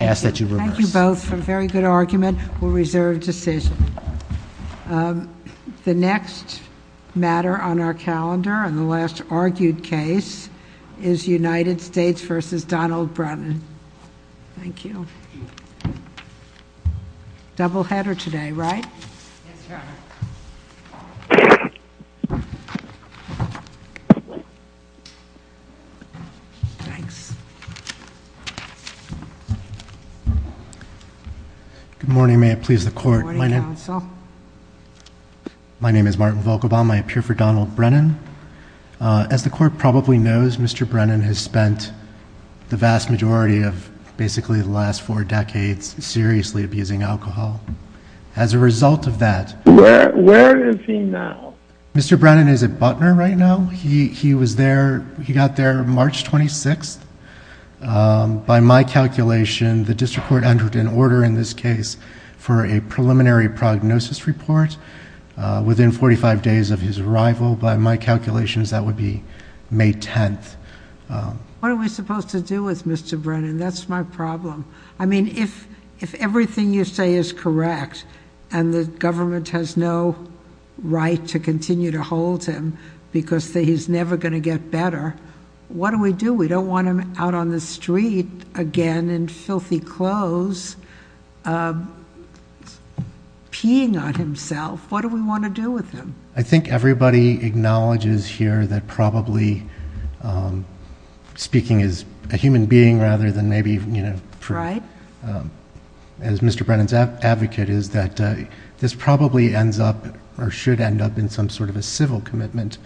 Thank you both for a very good argument. We'll reserve decision. The next matter on our calendar and the last argued case is United States v. Donald Brunton. Thank you. Double header today, right? Yes, Your Honor. Thanks. Good morning. May it please the Court. Good morning, Counsel. My name is Martin Volkobaum. I appear for Donald Brennan. As the Court probably knows, Mr. Brennan has spent the vast majority of basically the last four decades seriously abusing alcohol. As a result of that... Where is he now? Mr. Brennan is at Butner right now. He was there, he got there March 26th. By my calculation, the District Court entered an order in this case for a preliminary prognosis report within 45 days of his arrival. By my calculations, that would be May 10th. What are we supposed to do with Mr. Brennan? That's my problem. I mean, if everything you say is correct and the government has no right to continue to hold him because he's never going to get better, what do we do? We don't want him out on the street again in filthy clothes, peeing on himself. What do we want to do with him? I think everybody acknowledges here that probably, speaking as a human being rather than maybe as Mr. Brennan's advocate, is that this probably ends up or should end up in some sort of a civil commitment.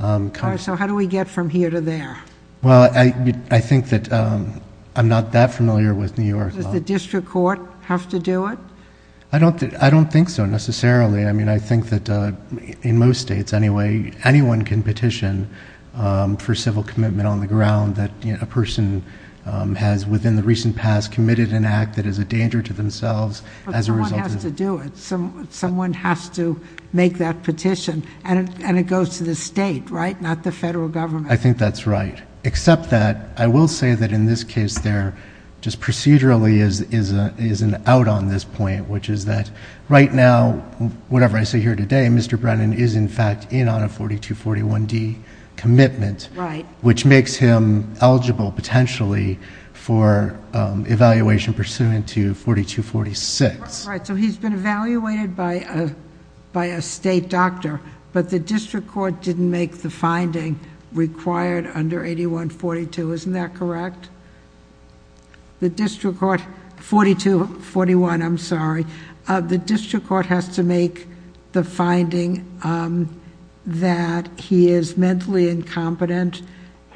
So how do we get from here to there? Well, I think that I'm not that familiar with New York. Does the District Court have to do it? I don't think so necessarily. I mean, I think that in most states anyway, anyone can petition for civil commitment on the ground that a person has within the recent past committed an act that is a danger to themselves as a result of... But someone has to do it. Someone has to make that petition, and it goes to the state, right, not the federal government. I think that's right, except that I will say that in this case there just procedurally is an out on this point, which is that right now, whatever I say here today, Mr. Brennan is in fact in on a 4241D commitment... Right.... which makes him eligible potentially for evaluation pursuant to 4246. All right, so he's been evaluated by a state doctor, but the District Court didn't make the finding required under 8142, isn't that correct? The District Court... 4241, I'm sorry. The District Court has to make the finding that he is mentally incompetent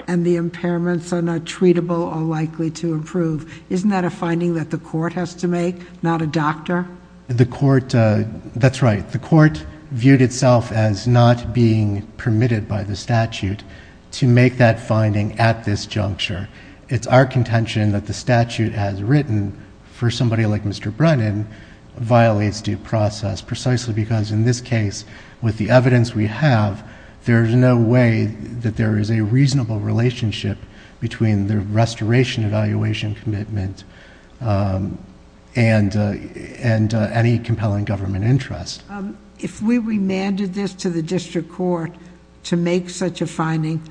and the impairments are not treatable or likely to improve. Isn't that a finding that the court has to make, not a doctor? The court... that's right. The court viewed itself as not being permitted by the statute to make that finding at this juncture. It's our contention that the statute has written for somebody like Mr. Brennan violates due process precisely because in this case with the evidence we have... there's no way that there is a reasonable relationship between the restoration evaluation commitment and any compelling government interest. If we remanded this to the District Court to make such a finding,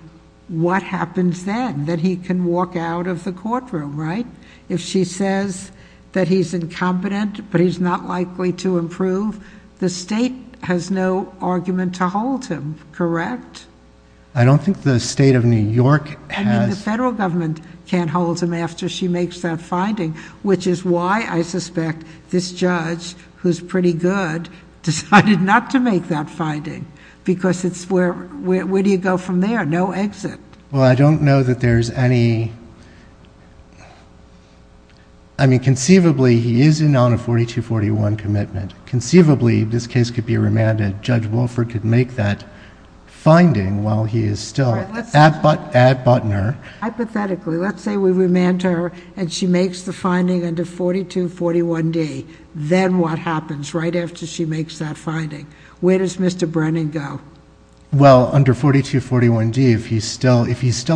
what happens then? That he can walk out of the courtroom, right? If she says that he's incompetent, but he's not likely to improve, the state has no argument to hold him, correct? I don't think the state of New York has... I mean, the federal government can't hold him after she makes that finding, which is why I suspect this judge, who's pretty good, decided not to make that finding because it's where... where do you go from there? No exit. Well, I don't know that there's any... I mean, conceivably, he isn't on a 4241 commitment. Conceivably, this case could be remanded. Judge Wolford could make that finding while he is still at Butner. Hypothetically, let's say we remand her and she makes the finding under 4241D. Then what happens right after she makes that finding? Where does Mr. Brennan go? Well, under 4241D, if he's still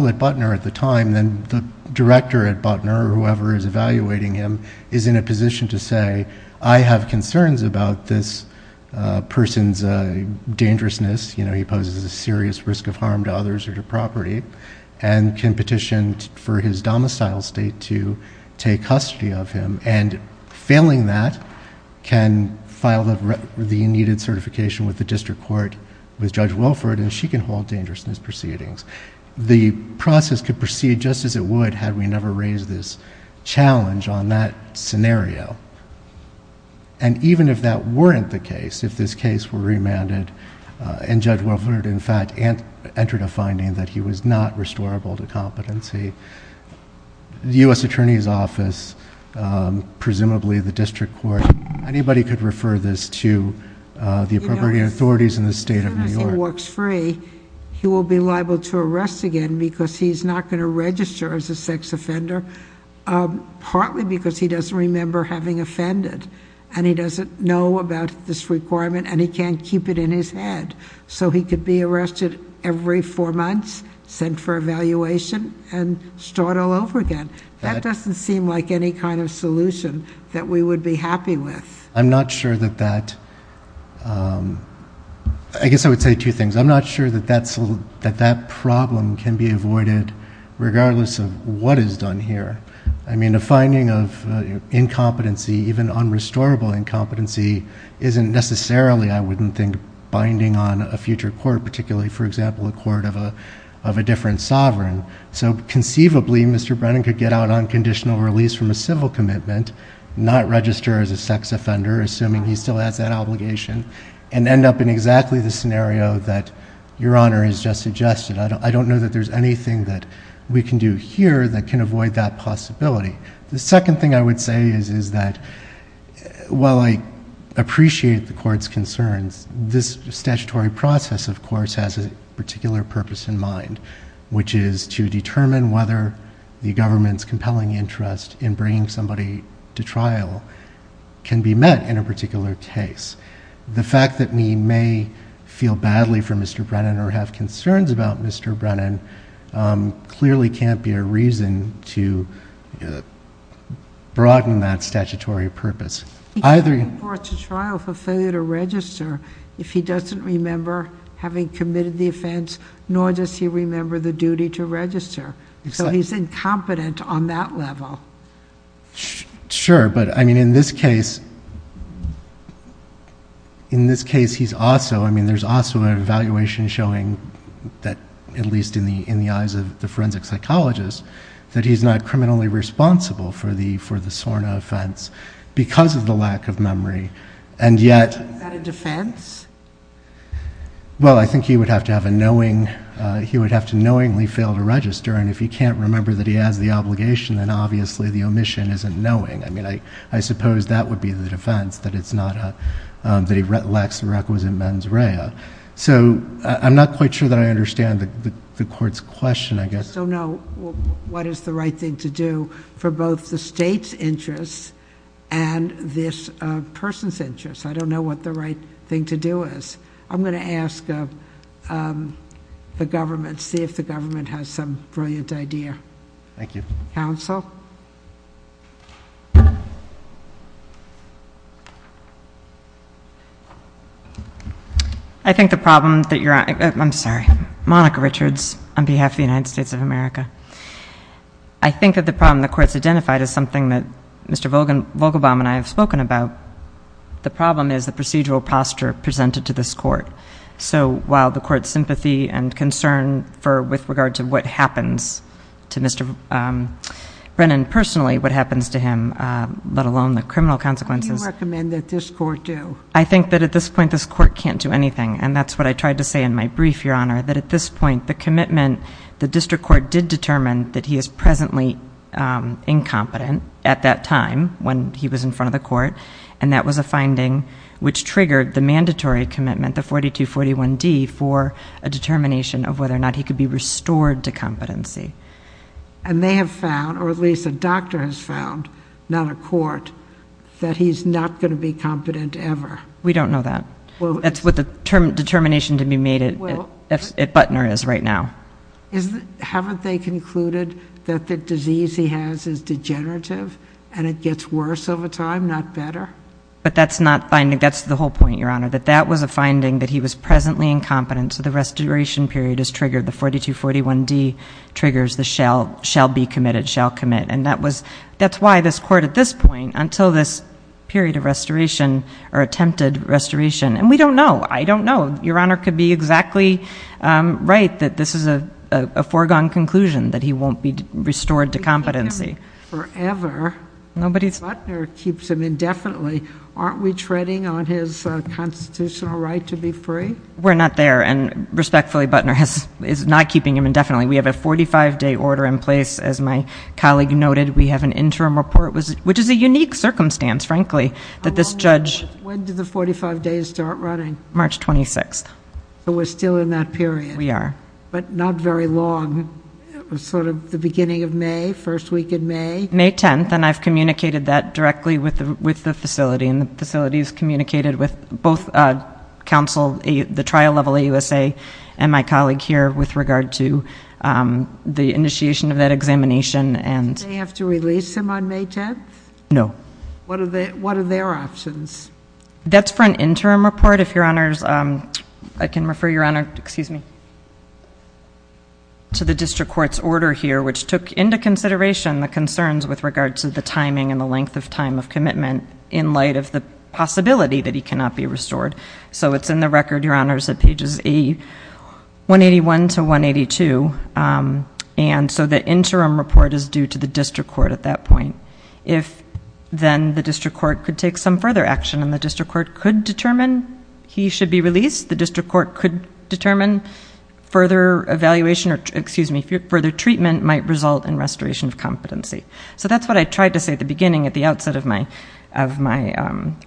at Butner at the time, then the director at Butner, or whoever is evaluating him, is in a position to say, I have concerns about this person's dangerousness. You know, he poses a serious risk of harm to others or to property, and can petition for his domicile state to take custody of him. Failing that can file the needed certification with the district court with Judge Wolford, and she can hold dangerousness proceedings. The process could proceed just as it would had we never raised this challenge on that scenario. Even if that weren't the case, if this case were remanded and Judge Wolford, in fact, entered a finding that he was not restorable to competency, the U.S. Attorney's Office, presumably the district court, anybody could refer this to the appropriate authorities in the state of New York. As soon as he walks free, he will be liable to arrest again because he's not going to register as a sex offender. Partly because he doesn't remember having offended, and he doesn't know about this requirement, and he can't keep it in his head. So he could be arrested every four months, sent for evaluation, and start all over again. That doesn't seem like any kind of solution that we would be happy with. I'm not sure that that, I guess I would say two things. I'm not sure that that problem can be avoided regardless of what is done here. I mean, a finding of incompetency, even unrestorable incompetency, isn't necessarily, I wouldn't think, binding on a future court, particularly, for example, a court of a different sovereign. So conceivably, Mr. Brennan could get out on conditional release from a civil commitment, not register as a sex offender, assuming he still has that obligation, and end up in exactly the scenario that Your Honor has just suggested. I don't know that there's anything that we can do here that can avoid that possibility. The second thing I would say is that while I appreciate the court's concerns, this statutory process, of course, has a particular purpose in mind, which is to determine whether the government's compelling interest in bringing somebody to trial can be met in a particular case. The fact that we may feel badly for Mr. Brennan or have concerns about Mr. Brennan clearly can't be a reason to broaden that statutory purpose. He can't report to trial for failure to register if he doesn't remember having committed the offense, nor does he remember the duty to register, so he's incompetent on that level. Sure, but in this case, there's also an evaluation showing, at least in the eyes of the forensic psychologist, that he's not criminally responsible for the SORNA offense because of the lack of memory. Is that a defense? Well, I think he would have to knowingly fail to register, and if he can't remember that he has the obligation, then obviously the omission isn't knowing. I mean, I suppose that would be the defense, that he lacks requisite mens rea. So I'm not quite sure that I understand the court's question, I guess. I just don't know what is the right thing to do for both the state's interests and this person's interests. I don't know what the right thing to do is. I'm going to ask the government, see if the government has some brilliant idea. Thank you. Counsel? I think the problem that you're on, I'm sorry. Monica Richards on behalf of the United States of America. I think that the problem the court's identified is something that Mr. Vogelbaum and I have spoken about. The problem is the procedural posture presented to this court. So while the court's sympathy and concern with regard to what happens to Mr. Brennan personally, what happens to him, let alone the criminal consequences. What do you recommend that this court do? I think that at this point this court can't do anything, and that's what I tried to say in my brief, Your Honor, that at this point the commitment, the district court did determine that he is presently incompetent at that time when he was in front of the court, and that was a finding which triggered the mandatory commitment, the 4241D, for a determination of whether or not he could be restored to competency. And they have found, or at least a doctor has found, not a court, that he's not going to be competent ever. We don't know that. That's what the determination to be made at Butner is right now. Haven't they concluded that the disease he has is degenerative and it gets worse over time, not better? But that's not finding. That's the whole point, Your Honor, that that was a finding that he was presently incompetent, so the restoration period is triggered. The 4241D triggers the shall be committed, shall commit. And that's why this court at this point, until this period of restoration or attempted restoration, and we don't know. I don't know. Your Honor could be exactly right that this is a foregone conclusion, that he won't be restored to competency. Butner keeps him indefinitely. Aren't we treading on his constitutional right to be free? We're not there, and respectfully, Butner is not keeping him indefinitely. We have a 45-day order in place. As my colleague noted, we have an interim report, which is a unique circumstance, frankly, that this judge- When did the 45 days start running? March 26th. So we're still in that period. We are. But not very long. It was sort of the beginning of May, first week in May. May 10th, and I've communicated that directly with the facility, and the facility has communicated with both counsel, the trial level AUSA, and my colleague here with regard to the initiation of that examination. Did they have to release him on May 10th? No. What are their options? That's for an interim report, if Your Honor's- I can refer Your Honor, excuse me, to the district court's order here, which took into consideration the concerns with regard to the timing and the length of time of commitment in light of the possibility that he cannot be restored. So it's in the record, Your Honor, at pages 181 to 182, and so the interim report is due to the district court at that point. If then the district court could take some further action, and the district court could determine he should be released, the district court could determine further evaluation or, excuse me, further treatment might result in restoration of competency. So that's what I tried to say at the beginning, at the outset of my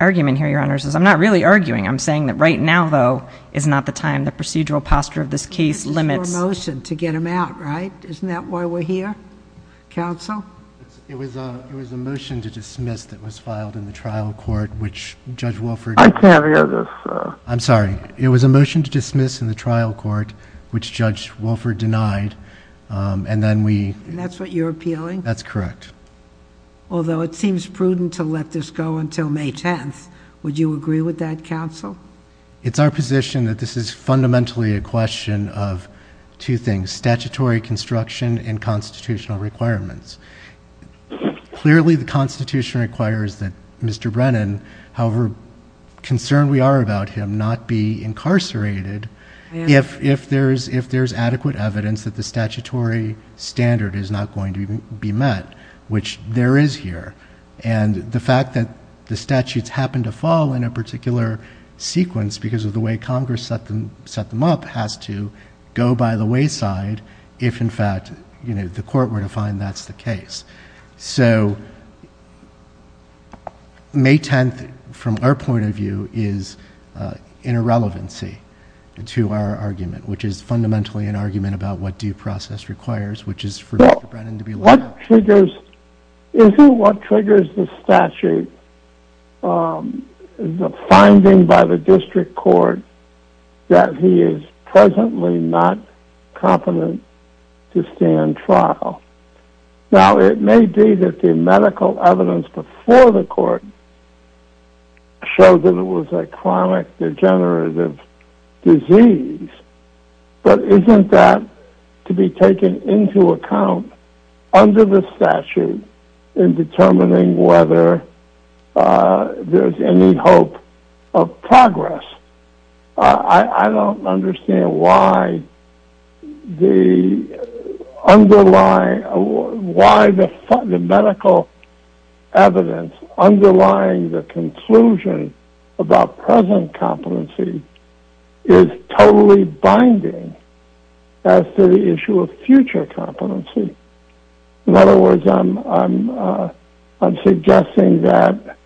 argument here, Your Honor, is I'm not really arguing. I'm saying that right now, though, is not the time. The procedural posture of this case limits- This is your motion to get him out, right? Isn't that why we're here, counsel? It was a motion to dismiss that was filed in the trial court, which Judge Wolford- I can't hear this, sir. I'm sorry. It was a motion to dismiss in the trial court, which Judge Wolford denied, and then we- And that's what you're appealing? That's correct. Although it seems prudent to let this go until May 10th. Would you agree with that, counsel? It's our position that this is fundamentally a question of two things, statutory construction and constitutional requirements. Clearly, the Constitution requires that Mr. Brennan, however concerned we are about him, not be incarcerated if there's adequate evidence that the statutory standard is not going to be met, which there is here. And the fact that the statutes happen to fall in a particular sequence because of the way Congress set them up has to go by the wayside if, in fact, the court were to find that's the case. So May 10th, from our point of view, is in a relevancy to our argument, which is fundamentally an argument about what due process requires, which is for Mr. Brennan to be- Isn't what triggers the statute the finding by the district court that he is presently not competent to stand trial? Now, it may be that the medical evidence before the court showed that it was a chronic degenerative disease, but isn't that to be taken into account under the statute in determining whether there's any hope of progress? I don't understand why the underlying- why the medical evidence underlying the conclusion about present competency is totally binding as to the issue of future competency. In other words, I'm suggesting that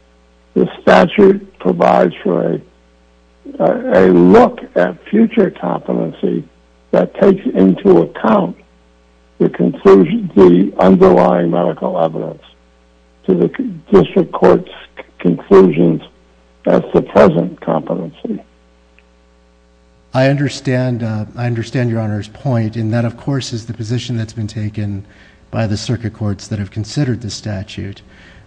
the statute provides for a look at future competency that takes into account the underlying medical evidence to the district court's conclusions as to present competency. I understand your Honor's point, and that of course is the position that's been taken by the circuit courts that have considered the statute.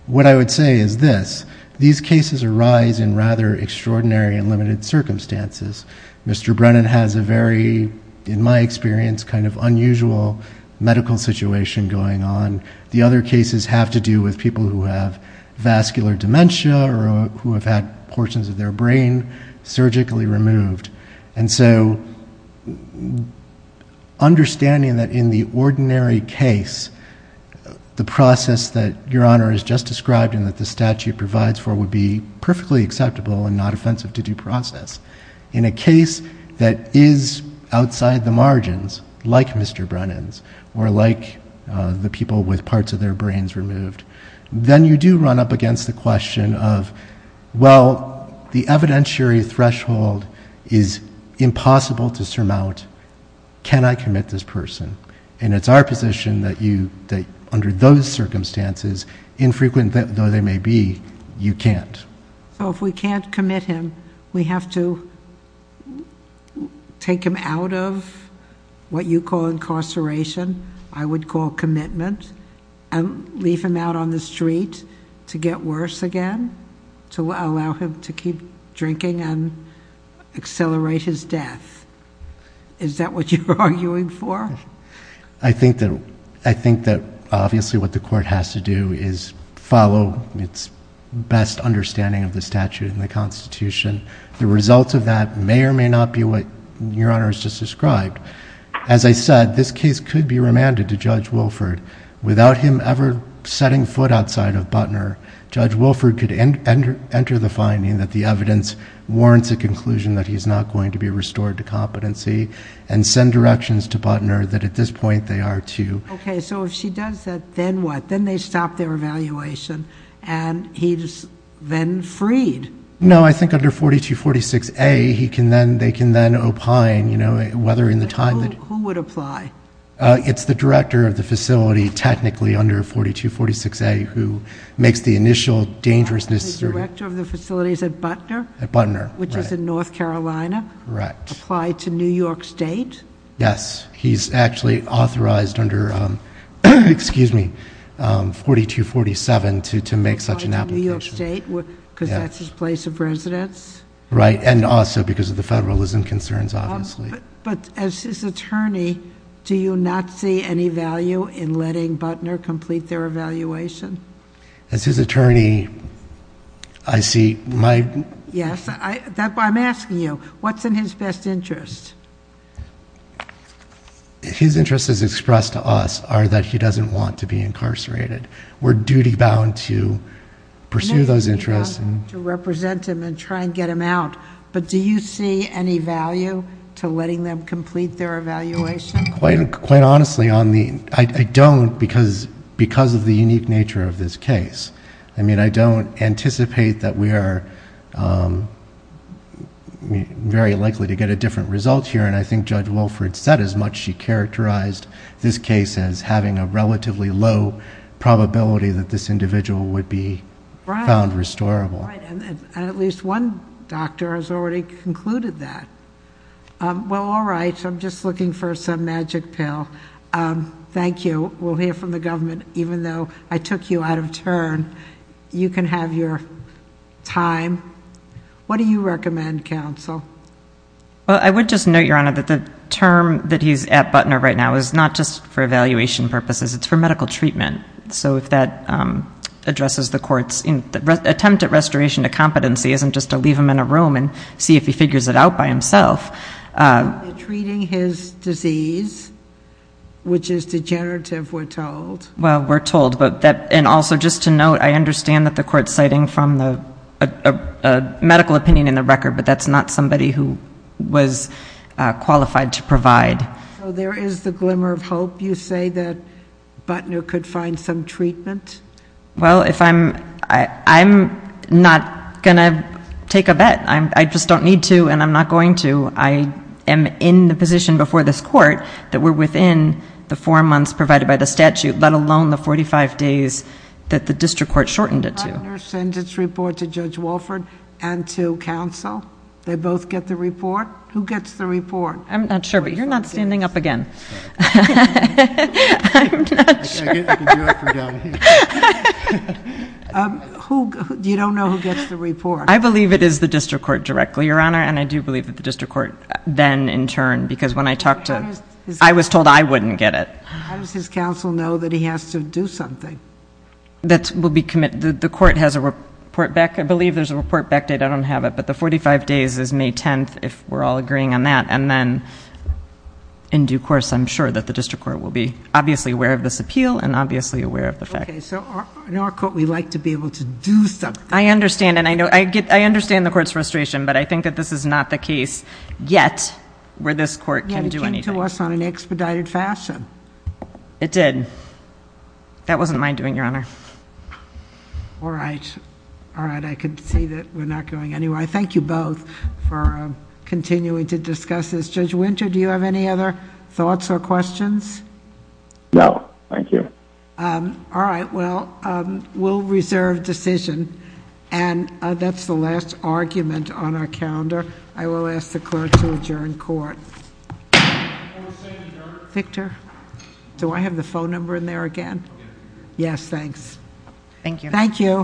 What I would say is this. These cases arise in rather extraordinary and limited circumstances. Mr. Brennan has a very, in my experience, kind of unusual medical situation going on. The other cases have to do with people who have vascular dementia or who have had portions of their brain surgically removed. And so understanding that in the ordinary case, the process that Your Honor has just described and that the statute provides for would be perfectly acceptable and not offensive to due process. In a case that is outside the margins, like Mr. Brennan's, or like the people with parts of their brains removed, then you do run up against the question of, well, the evidentiary threshold is impossible to surmount. Can I commit this person? And it's our position that under those circumstances, infrequent though they may be, you can't. So if we can't commit him, we have to take him out of what you call incarceration, I would call commitment, and leave him out on the street to get worse again, to allow him to keep drinking and accelerate his death. Is that what you're arguing for? I think that obviously what the court has to do is follow its best understanding of the statute and the Constitution. The result of that may or may not be what Your Honor has just described. As I said, this case could be remanded to Judge Wilford. Without him ever setting foot outside of Butner, Judge Wilford could enter the finding that the evidence warrants a conclusion that he's not going to be restored to competency and send directions to Butner that at this point they are to. Okay, so if she does that, then what? Then they stop their evaluation, and he's then freed. No, I think under 4246A, they can then opine, whether in the time that... Who would apply? It's the director of the facility technically under 4246A who makes the initial dangerousness... The director of the facility is at Butner? At Butner, right. Which is in North Carolina? Correct. Applied to New York State? Yes. He's actually authorized under 4247 to make such an application. Applied to New York State because that's his place of residence? Right, and also because of the federalism concerns, obviously. But as his attorney, do you not see any value in letting Butner complete their evaluation? As his attorney, I see my... Yes, I'm asking you, what's in his best interest? His interests, as expressed to us, are that he doesn't want to be incarcerated. We're duty-bound to pursue those interests. We're duty-bound to represent him and try and get him out, but do you see any value to letting them complete their evaluation? Quite honestly, I don't because of the unique nature of this case. I don't anticipate that we are very likely to get a different result here, and I think Judge Wilford said as much. She characterized this case as having a relatively low probability that this individual would be found restorable. Right, and at least one doctor has already concluded that. Well, all right, I'm just looking for some magic pill. Thank you. We'll hear from the government. Even though I took you out of turn, you can have your time. What do you recommend, counsel? Well, I would just note, Your Honor, that the term that he's at Butner right now is not just for evaluation purposes. It's for medical treatment. So if that addresses the court's attempt at restoration to competency isn't just to leave him in a room and see if he figures it out by himself. You're treating his disease, which is degenerative, we're told. Well, we're told. And also just to note, I understand that the court's citing a medical opinion in the record, but that's not somebody who was qualified to provide. So there is the glimmer of hope. Do you hope you say that Butner could find some treatment? Well, I'm not going to take a bet. I just don't need to, and I'm not going to. I am in the position before this court that we're within the four months provided by the statute, let alone the 45 days that the district court shortened it to. But Butner sends his report to Judge Walford and to counsel. They both get the report. Who gets the report? I'm not sure, but you're not standing up again. I'm not sure. You don't know who gets the report? I believe it is the district court directly, Your Honor, and I do believe that the district court then, in turn, because when I talked to him, I was told I wouldn't get it. How does his counsel know that he has to do something? That will be committed. The court has a report back. I believe there's a report backdated. I don't have it. But the 45 days is May 10th, if we're all agreeing on that. And then in due course, I'm sure that the district court will be obviously aware of this appeal and obviously aware of the fact. So in our court, we like to be able to do something. I understand. And I understand the court's frustration, but I think that this is not the case yet where this court can do anything. Yeah, it came to us on an expedited fashion. It did. That wasn't my doing, Your Honor. All right. All right. I can see that we're not going anywhere. I thank you both for continuing to discuss this. Judge Winter, do you have any other thoughts or questions? No. Thank you. All right. Well, we'll reserve decision. And that's the last argument on our calendar. I will ask the clerk to adjourn court. Court is adjourned. Victor? Do I have the phone number in there again? Yes, thanks. Thank you. Thank you.